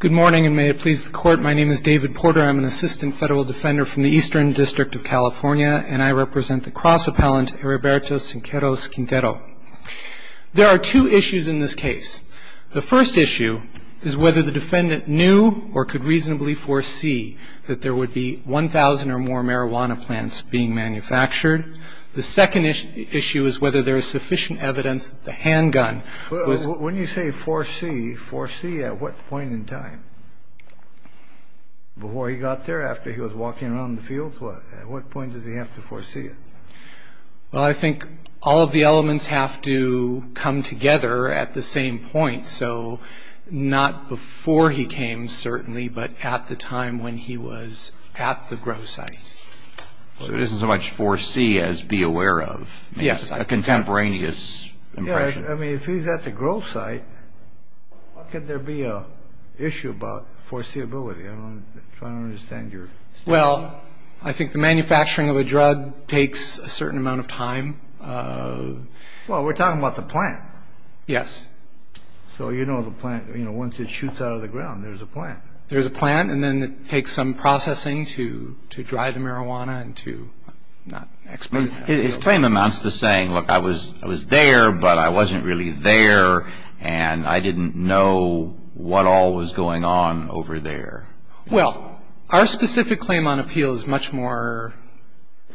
Good morning, and may it please the court, my name is David Porter. I'm an assistant federal defender from the Eastern District of California, and I represent the cross-appellant Heriberto Sicairos-Quintero. There are two issues in this case. The first issue is whether the defendant knew or could reasonably foresee that there would be 1,000 or more marijuana plants being manufactured. The second issue is whether there is sufficient evidence that the handgun was... Well, when you say foresee, foresee at what point in time? Before he got there, after he was walking around the field? At what point does he have to foresee it? Well, I think all of the elements have to come together at the same point, so not before he came, certainly, but at the time when he was at the grow site. Well, there isn't so much foresee as be aware of. Yes. A contemporaneous impression. Yeah, I mean, if he's at the grow site, how could there be an issue about foreseeability? I don't understand your... Well, I think the manufacturing of a drug takes a certain amount of time. Well, we're talking about the plant. Yes. So you know the plant, you know, once it shoots out of the ground, there's a plant. There's a plant, and then it takes some processing to dry the marijuana and to... His claim amounts to saying, look, I was there, but I wasn't really there, and I didn't know what all was going on over there. Well, our specific claim on appeal is much more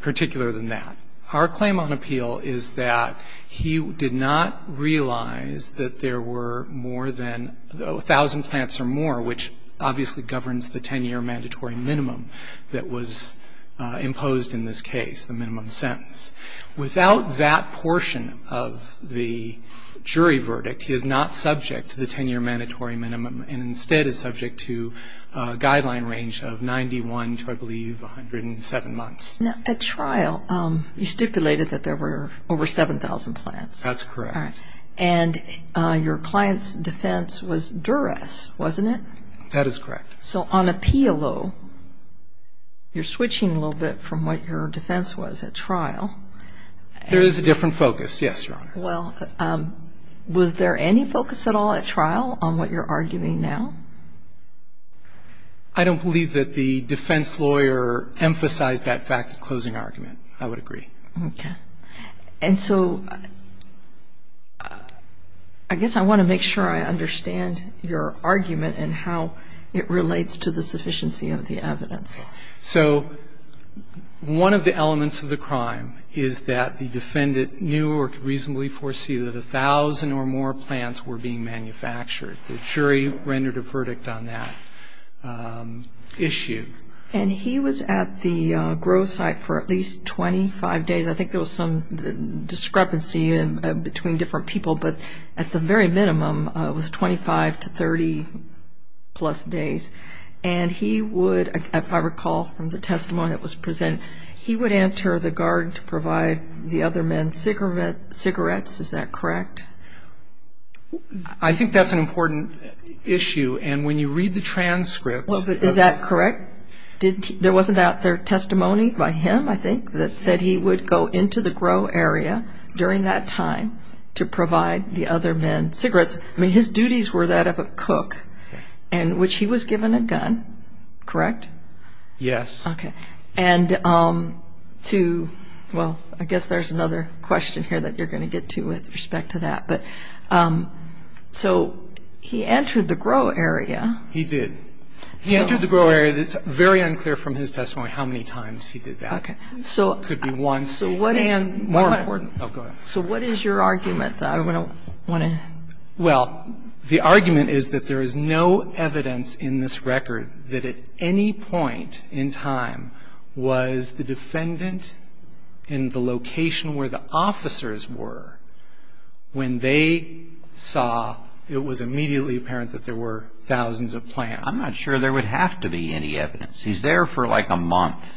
particular than that. Our claim on appeal is that he did not realize that there were more than 1,000 plants or more, which obviously governs the 10-year mandatory minimum that was imposed in this case, the minimum sentence. Without that portion of the jury verdict, he is not subject to the 10-year mandatory minimum and instead is subject to a guideline range of 91 to, I believe, 107 months. Now, at trial, you stipulated that there were over 7,000 plants. That's correct. All right. And your client's defense was duress, wasn't it? That is correct. So on appeal, though, you're switching a little bit from what your defense was at trial. There is a different focus, yes, Your Honor. Well, was there any focus at all at trial on what you're arguing now? I don't believe that the defense lawyer emphasized that fact at closing argument. I would agree. Okay. And so I guess I want to make sure I understand your argument and how it relates to the sufficiency of the evidence. So one of the elements of the crime is that the defendant knew or could reasonably foresee that 1,000 or more plants were being manufactured. The jury rendered a verdict on that issue. And he was at the grow site for at least 25 days. I think there was some discrepancy between different people, but at the very minimum it was 25 to 30-plus days. And he would, if I recall from the testimony that was presented, he would enter the garden to provide the other men cigarettes, is that correct? I think that's an important issue, and when you read the transcripts. Well, is that correct? There wasn't a testimony by him, I think, that said he would go into the grow area during that time to provide the other men cigarettes. I mean, his duties were that of a cook in which he was given a gun, correct? Yes. Okay. And to, well, I guess there's another question here that you're going to get to with respect to that. But so he entered the grow area. He did. He entered the grow area. It's very unclear from his testimony how many times he did that. Okay. It could be once. So what is your argument? I want to. Well, the argument is that there is no evidence in this record that at any point in time was the defendant in the location where the officers were when they saw it was immediately apparent that there were thousands of plants. I'm not sure there would have to be any evidence. He's there for like a month.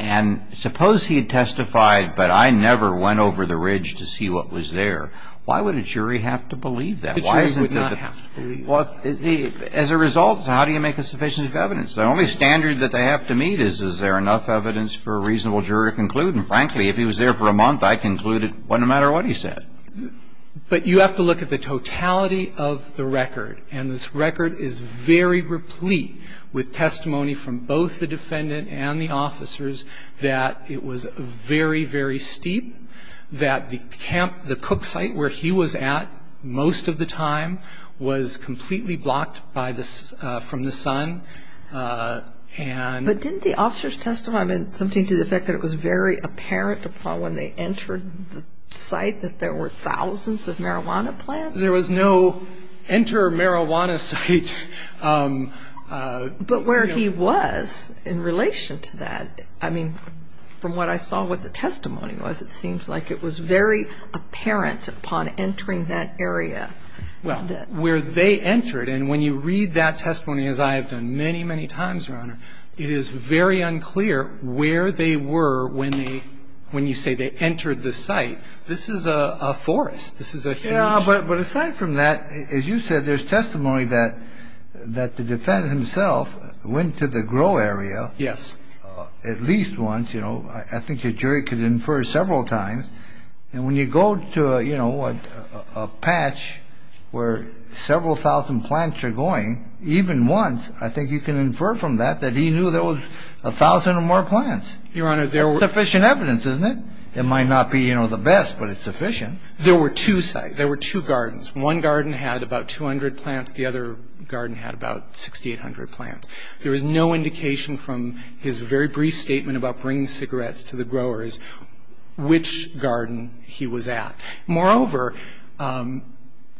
And suppose he had testified, but I never went over the ridge to see what was there. Why would a jury have to believe that? A jury would not have to believe that. Well, as a result, how do you make a sufficient evidence? The only standard that they have to meet is, is there enough evidence for a reasonable jury to conclude? And frankly, if he was there for a month, I concluded it wasn't a matter of what he said. But you have to look at the totality of the record. And this record is very replete with testimony from both the defendant and the officers that it was very, very steep, that the cook site where he was at most of the time was completely blocked from the sun. But didn't the officers testify, I mean, something to the effect that it was very apparent upon when they entered the site that there were thousands of marijuana plants? There was no enter marijuana site. But where he was in relation to that, I mean, from what I saw what the testimony was, it seems like it was very apparent upon entering that area. Well, where they entered, and when you read that testimony, as I have done many, many times, Your Honor, it is very unclear where they were when they, when you say they entered the site. This is a forest. This is a huge. Yeah, but aside from that, as you said, there's testimony that the defendant himself went to the grow area. Yes. At least once. I think the jury could infer several times. And when you go to a patch where several thousand plants are going, even once, I think you can infer from that that he knew there was a thousand or more plants. Your Honor, there was sufficient evidence, isn't it? It might not be the best, but it's sufficient. There were two sites. There were two gardens. One garden had about 200 plants. The other garden had about 6,800 plants. There was no indication from his very brief statement about bringing cigarettes to the growers which garden he was at. Moreover,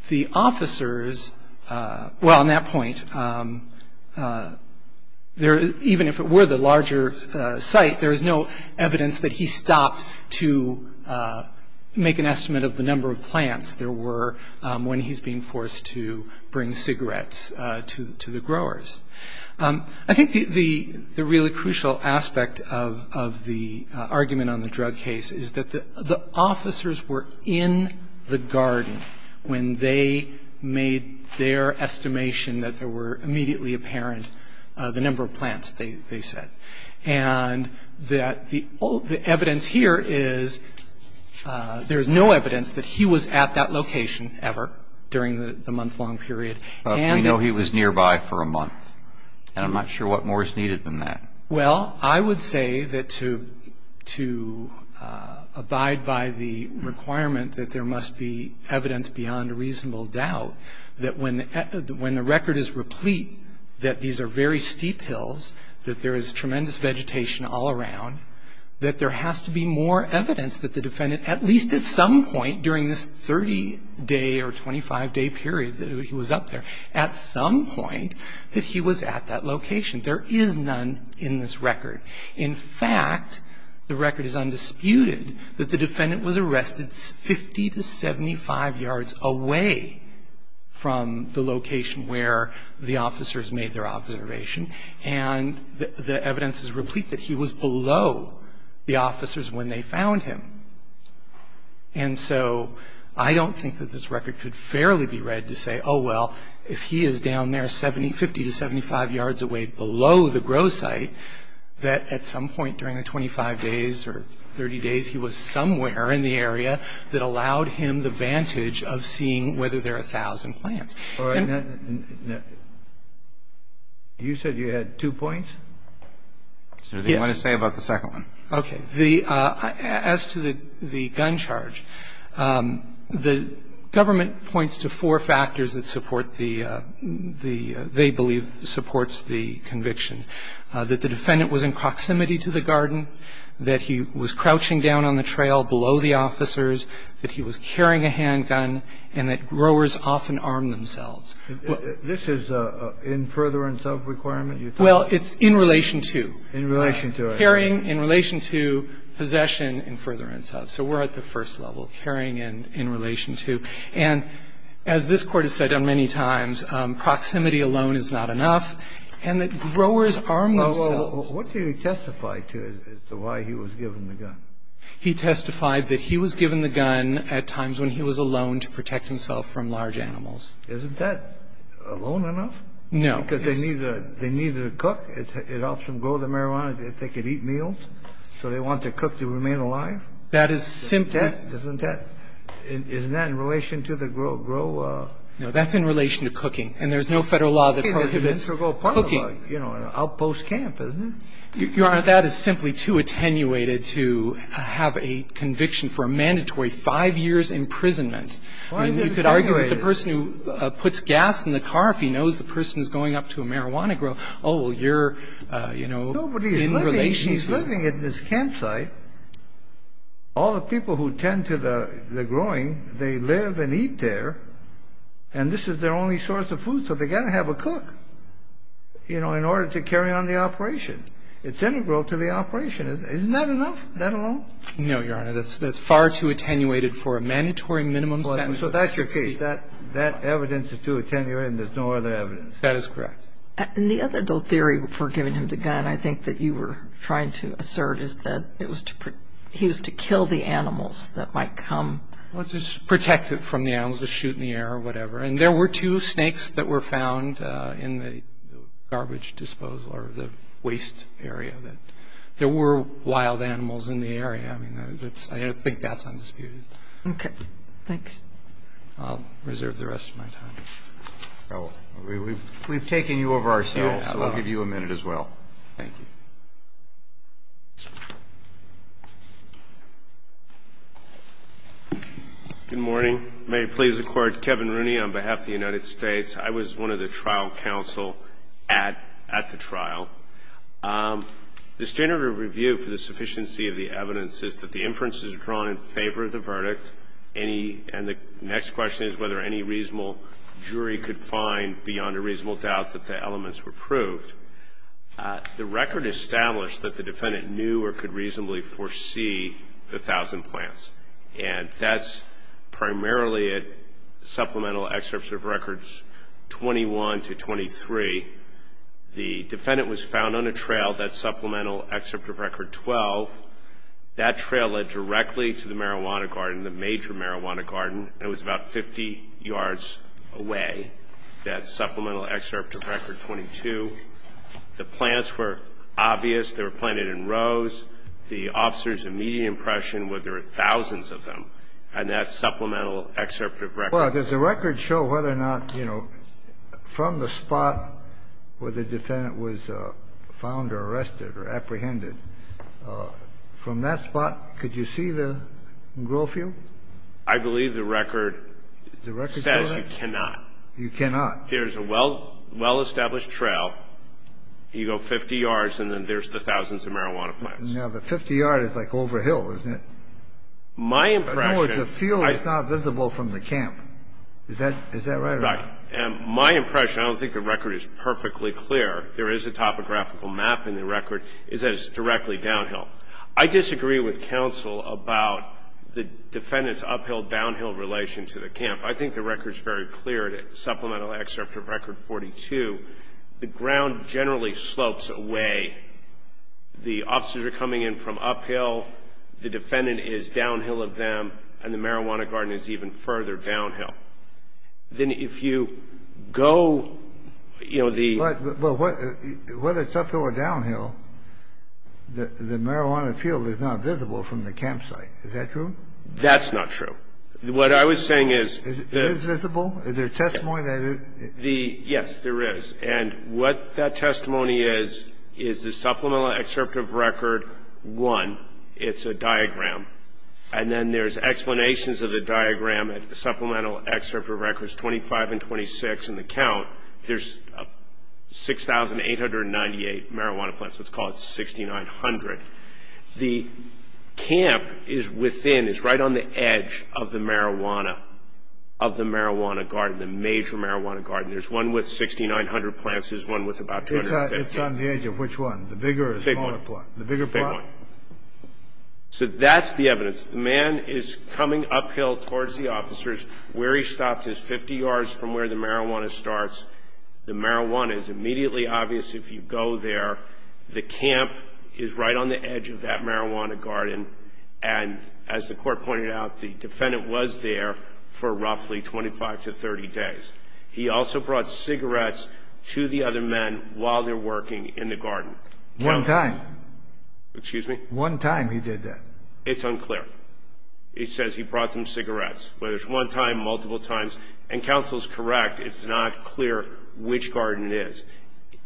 the officers, well, on that point, even if it were the larger site, there was no evidence that he stopped to make an estimate of the number of plants there were when he's being forced to bring cigarettes to the growers. I think the really crucial aspect of the argument on the drug case is that the officers were in the garden when they made their estimation that there were immediately apparent the number of plants, they said. The evidence here is there is no evidence that he was at that location ever during the month-long period. We know he was nearby for a month, and I'm not sure what more is needed than that. Well, I would say that to abide by the requirement that there must be evidence beyond a reasonable doubt that when the record is replete that these are very horrendous vegetation all around, that there has to be more evidence that the defendant, at least at some point during this 30-day or 25-day period that he was up there, at some point that he was at that location. There is none in this record. In fact, the record is undisputed that the defendant was arrested 50 to 75 yards away from the location where the officers made their observation, and the evidence is replete that he was below the officers when they found him. And so I don't think that this record could fairly be read to say, oh, well, if he is down there 50 to 75 yards away below the grow site, that at some point during the 25 days or 30 days he was somewhere in the area that allowed him the vantage of seeing whether there are 1,000 plants. Kennedy, you said you had two points? Yes. What do you want to say about the second one? Okay. As to the gun charge, the government points to four factors that support the – they believe supports the conviction, that the defendant was in proximity to the garden, that he was crouching down on the trail below the officers, that he was carrying a handgun, and that growers often arm themselves. This is a in furtherance of requirement? Well, it's in relation to. In relation to. Carrying in relation to, possession in furtherance of. So we're at the first level, carrying in relation to. And as this Court has said many times, proximity alone is not enough, and that growers arm themselves. What do you testify to as to why he was given the gun? He testified that he was given the gun at times when he was alone to protect himself from large animals. Isn't that alone enough? No. Because they needed to cook. It helps them grow the marijuana if they could eat meals. So they want to cook to remain alive? That is simply – Isn't that – isn't that in relation to the grow – grow – No. That's in relation to cooking. And there's no federal law that prohibits cooking. Okay. That's an integral part of, you know, an outpost camp, isn't it? Your Honor, that is simply too attenuated to have a conviction for a mandatory five years' imprisonment. Why is it attenuated? I mean, you could argue that the person who puts gas in the car, if he knows the person is going up to a marijuana grower, oh, well, you're, you know, in relation to – Nobody's living – he's living in this campsite. All the people who tend to the growing, they live and eat there, and this is their only source of food. So they got to have a cook, you know, in order to carry on the operation. It's integral to the operation. Isn't that enough? That alone? No, Your Honor. That's far too attenuated for a mandatory minimum sentence. So that's your case. That evidence is too attenuated and there's no other evidence. That is correct. And the other, though, theory for giving him the gun, I think that you were trying to assert, is that it was to – he was to kill the animals that might come. Well, to protect it from the animals, to shoot in the air or whatever. And there were two snakes that were found in the garbage disposal or the waste area. There were wild animals in the area. I mean, that's – I think that's undisputed. Okay. Thanks. I'll reserve the rest of my time. We've taken you over, so I'll give you a minute as well. Thank you. Good morning. May it please the Court. Kevin Rooney on behalf of the United States. I was one of the trial counsel at the trial. The standard of review for the sufficiency of the evidence is that the inferences are drawn in favor of the verdict. And the next question is whether any reasonable jury could find beyond a reasonable doubt that the elements were proved. The record established that the defendant knew or could reasonably foresee the thousand plants. And that's primarily at Supplemental Excerpts of Records 21 to 23. The defendant was found on a trail, that's Supplemental Excerpt of Record 12. That trail led directly to the marijuana garden, the major marijuana garden. It was about 50 yards away, that's Supplemental Excerpt of Record 22. The plants were obvious. They were planted in rows. The officers immediate impression were there were thousands of them. And that's Supplemental Excerpt of Record. Well, does the record show whether or not, you know, from the spot where the defendant was found or arrested or apprehended, from that spot, could you see the grow field? I believe the record says you cannot. You cannot. Here's a well-established trail. You go 50 yards, and then there's the thousands of marijuana plants. Now, the 50 yards is like over a hill, isn't it? My impression. No, the field is not visible from the camp. Is that right? Right. And my impression, I don't think the record is perfectly clear, there is a topographical map in the record, is that it's directly downhill. I disagree with counsel about the defendant's uphill-downhill relation to the camp. I think the record is very clear, Supplemental Excerpt of Record 42. The ground generally slopes away. The officers are coming in from uphill. The defendant is downhill of them, and the marijuana garden is even further downhill. Then if you go, you know, the ---- Well, whether it's uphill or downhill, the marijuana field is not visible from the campsite. Is that true? That's not true. What I was saying is the ---- Is it visible? Is there testimony that it is? Yes, there is. And what that testimony is, is the Supplemental Excerpt of Record 1. It's a diagram. And then there's explanations of the diagram at the Supplemental Excerpt of Records 25 and 26 in the count. There's 6,898 marijuana plants. Let's call it 6,900. The camp is within, is right on the edge of the marijuana, of the marijuana garden, the major marijuana garden. There's one with 6,900 plants. There's one with about 250. It's on the edge of which one, the bigger or smaller plant? The big one. The bigger plant? The big one. So that's the evidence. The man is coming uphill towards the officers. Where he stopped is 50 yards from where the marijuana starts. The marijuana is immediately obvious if you go there. The camp is right on the edge of that marijuana garden. And as the court pointed out, the defendant was there for roughly 25 to 30 days. He also brought cigarettes to the other men while they're working in the garden. One time. Excuse me? One time he did that. It's unclear. It says he brought them cigarettes. Whether it's one time, multiple times. And counsel is correct. It's not clear which garden it is.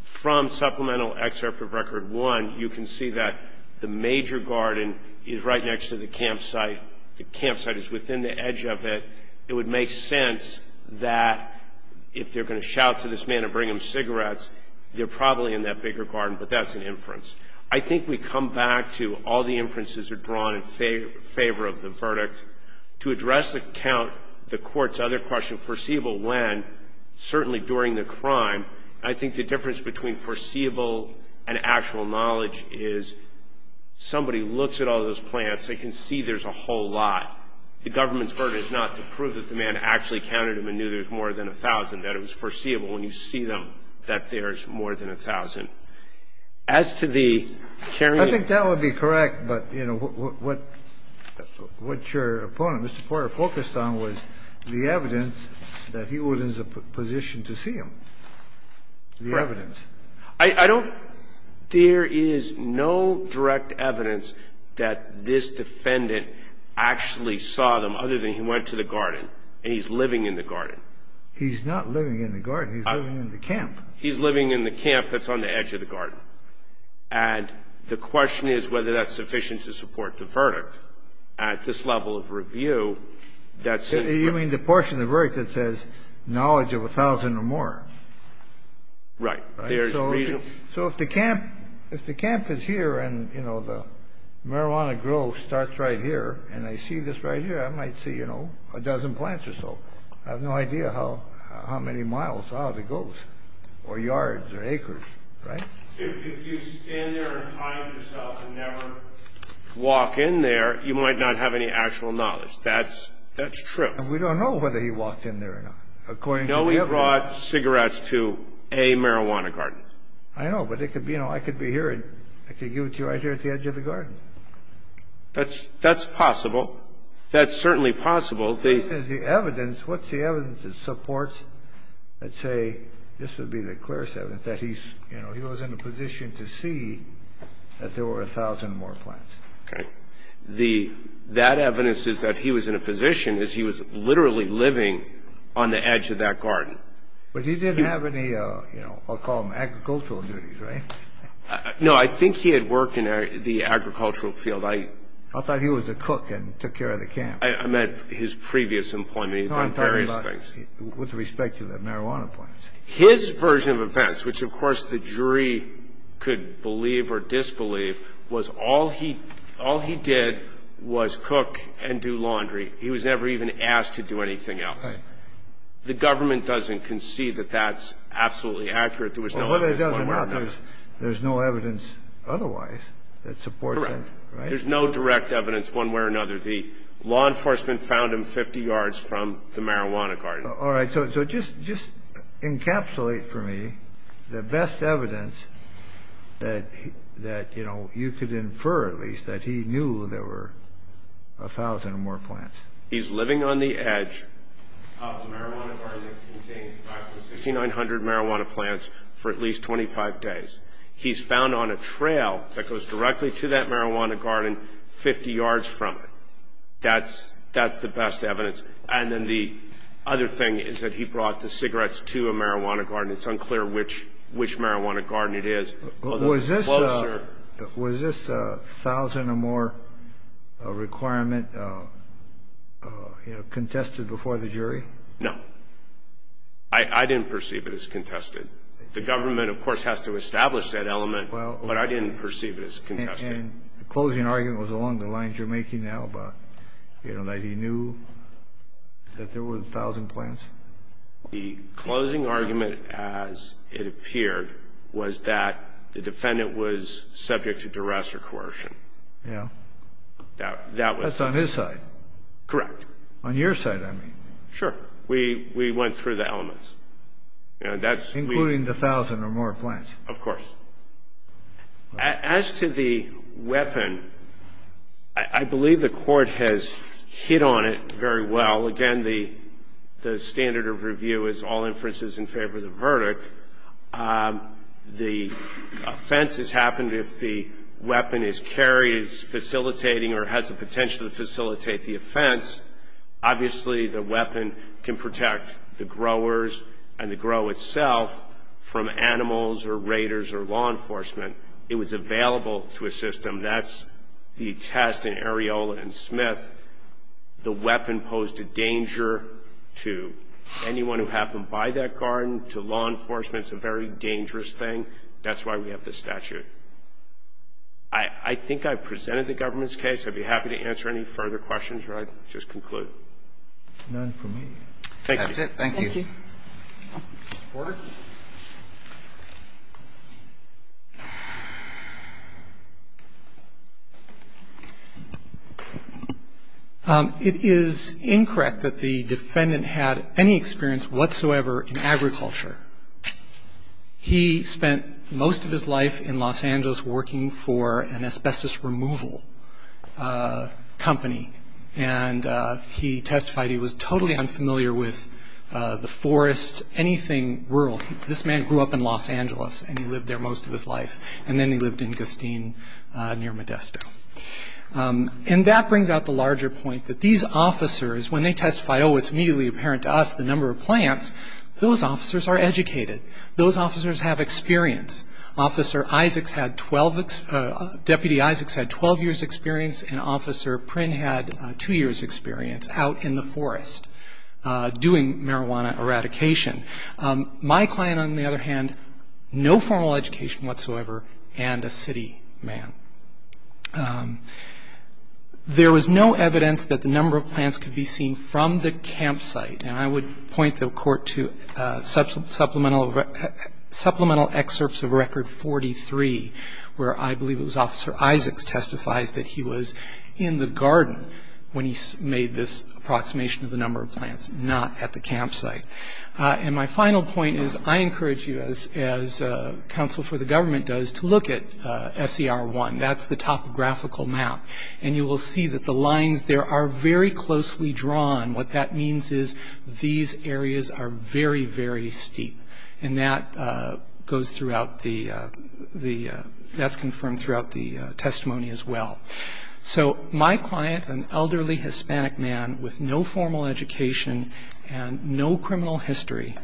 From supplemental excerpt of record one, you can see that the major garden is right next to the campsite. The campsite is within the edge of it. It would make sense that if they're going to shout to this man and bring him cigarettes, they're probably in that bigger garden, but that's an inference. I think we come back to all the inferences are drawn in favor of the verdict. To address the count, the court's other question, foreseeable when, certainly during the crime, I think the difference between foreseeable and actual knowledge is somebody looks at all those plants. They can see there's a whole lot. The government's burden is not to prove that the man actually counted them and knew there's more than 1,000, that it was foreseeable when you see them that there's more than 1,000. As to the carrying of ---- I think that would be correct, but, you know, what your opponent, Mr. Porter, focused on was the evidence that he was in a position to see them, the evidence. I don't ---- There is no direct evidence that this defendant actually saw them other than he went to the garden and he's living in the garden. He's not living in the garden. He's living in the camp. He's living in the camp that's on the edge of the garden. And the question is whether that's sufficient to support the verdict. At this level of review, that's ---- You mean the portion of work that says knowledge of 1,000 or more. Right. So if the camp is here and, you know, the marijuana grove starts right here and I see this right here, I might see, you know, a dozen plants or so. I have no idea how many miles out it goes or yards or acres, right? If you stand there and find yourself and never walk in there, you might not have any actual knowledge. That's true. And we don't know whether he walked in there or not, according to the evidence. No, he brought cigarettes to a marijuana garden. I know, but it could be, you know, I could be here and I could give it to you right here at the edge of the garden. That's possible. That's certainly possible. The evidence, what's the evidence that supports, let's say, this would be the clearest evidence, that he's, you know, he was in a position to see that there were 1,000 more plants. Okay. That evidence is that he was in a position, is he was literally living on the edge of that garden. But he didn't have any, you know, I'll call them agricultural duties, right? No, I think he had worked in the agricultural field. I thought he was a cook and took care of the camp. I meant his previous employment. Well, I'm talking about with respect to the marijuana plants. His version of events, which, of course, the jury could believe or disbelieve, was all he did was cook and do laundry. He was never even asked to do anything else. Right. The government doesn't concede that that's absolutely accurate. There was no evidence. Well, whether it does or not, there's no evidence otherwise that supports that. Correct. There's no direct evidence one way or another. The law enforcement found him 50 yards from the marijuana garden. All right. So just encapsulate for me the best evidence that, you know, you could infer, at least, that he knew there were 1,000 more plants. He's living on the edge of the marijuana garden that contains approximately 6,900 marijuana plants for at least 25 days. He's found on a trail that goes directly to that marijuana garden 50 yards from it. That's the best evidence. And then the other thing is that he brought the cigarettes to a marijuana garden. It's unclear which marijuana garden it is. Was this 1,000 or more requirement contested before the jury? No. I didn't perceive it as contested. The government, of course, has to establish that element, but I didn't perceive it as contested. And the closing argument was along the lines you're making now about, you know, that he knew that there were 1,000 plants? The closing argument, as it appeared, was that the defendant was subject to duress or coercion. Yeah. That was the case. That's on his side. Correct. On your side, I mean. Sure. We went through the elements. Including the 1,000 or more plants. Of course. As to the weapon, I believe the court has hit on it very well. Again, the standard of review is all inferences in favor of the verdict. The offense has happened if the weapon is carried, is facilitating, or has the potential to facilitate the offense. Obviously, the weapon can protect the growers and the grow itself from animals or raiders or law enforcement. It was available to a system. That's the test in Areola and Smith. The weapon posed a danger to anyone who happened by that garden, to law enforcement. It's a very dangerous thing. That's why we have this statute. I think I've presented the government's case. I'd be happy to answer any further questions or I'd just conclude. None for me. Thank you. That's it. Thank you. Order. It is incorrect that the defendant had any experience whatsoever in agriculture. He spent most of his life in Los Angeles working for an asbestos removal company. He testified he was totally unfamiliar with the forest, anything rural. This man grew up in Los Angeles and he lived there most of his life. Then he lived in Gustine near Modesto. That brings out the larger point that these officers, when they testify, oh, it's immediately apparent to us the number of plants, those officers are educated. Those officers have experience. Deputy Isaacs had 12 years' experience and Officer Prynne had two years' experience out in the forest doing marijuana eradication. My client, on the other hand, no formal education whatsoever and a city man. There was no evidence that the number of plants could be seen from the campsite and I would point the court to supplemental excerpts of Record 43 where I believe it was Officer Isaacs testifies that he was in the garden when he made this approximation of the number of plants, not at the campsite. And my final point is I encourage you, as counsel for the government does, to look at SER 1. That's the topographical map. And you will see that the lines there are very closely drawn. What that means is these areas are very, very steep. And that goes throughout the the that's confirmed throughout the testimony as well. So my client, an elderly Hispanic man with no formal education and no criminal history,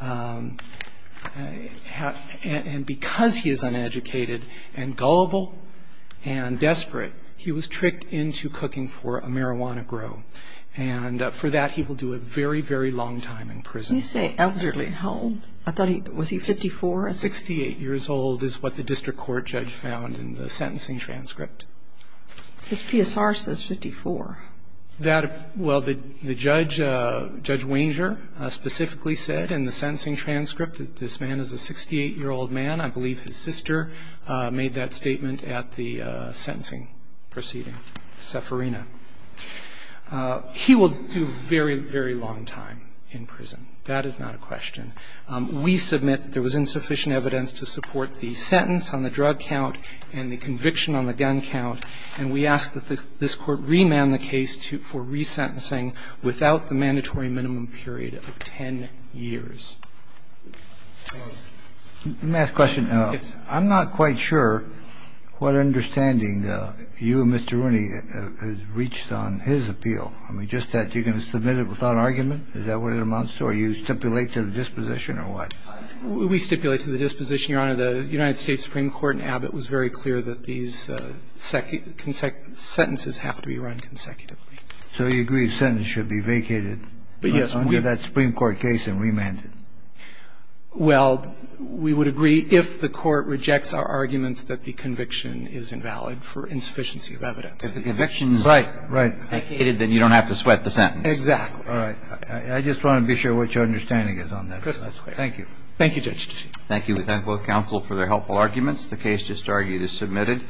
and because he is uneducated and gullible and desperate, he was tricked into cooking for a marijuana grow. And for that he will do a very, very long time in prison. You say elderly. I thought he was 54. 68 years old is what the district court judge found in the sentencing transcript. His PSR says 54. Well, Judge Wanger specifically said in the sentencing transcript that this man is a 68-year-old man. I believe his sister made that statement at the sentencing proceeding, Seferina. He will do a very, very long time in prison. That is not a question. We submit there was insufficient evidence to support the sentence on the drug count and the conviction on the gun count. And we ask that this Court remand the case for resentencing without the mandatory minimum period of 10 years. Let me ask a question. Yes. I'm not quite sure what understanding you and Mr. Rooney have reached on his appeal. I mean, just that you're going to submit it without argument? Is that what it amounts to? Are you stipulate to the disposition or what? We stipulate to the disposition, Your Honor. The United States Supreme Court in Abbott was very clear that these sentences have to be run consecutively. So you agree the sentence should be vacated? Yes. Under that Supreme Court case and remanded. Well, we would agree if the Court rejects our arguments that the conviction is invalid for insufficiency of evidence. If the conviction is vacated, then you don't have to sweat the sentence. Exactly. All right. I just want to be sure what your understanding is on that. Thank you. Thank you, Judge. Thank you. We thank both counsel for their helpful arguments. The case just argued is submitted.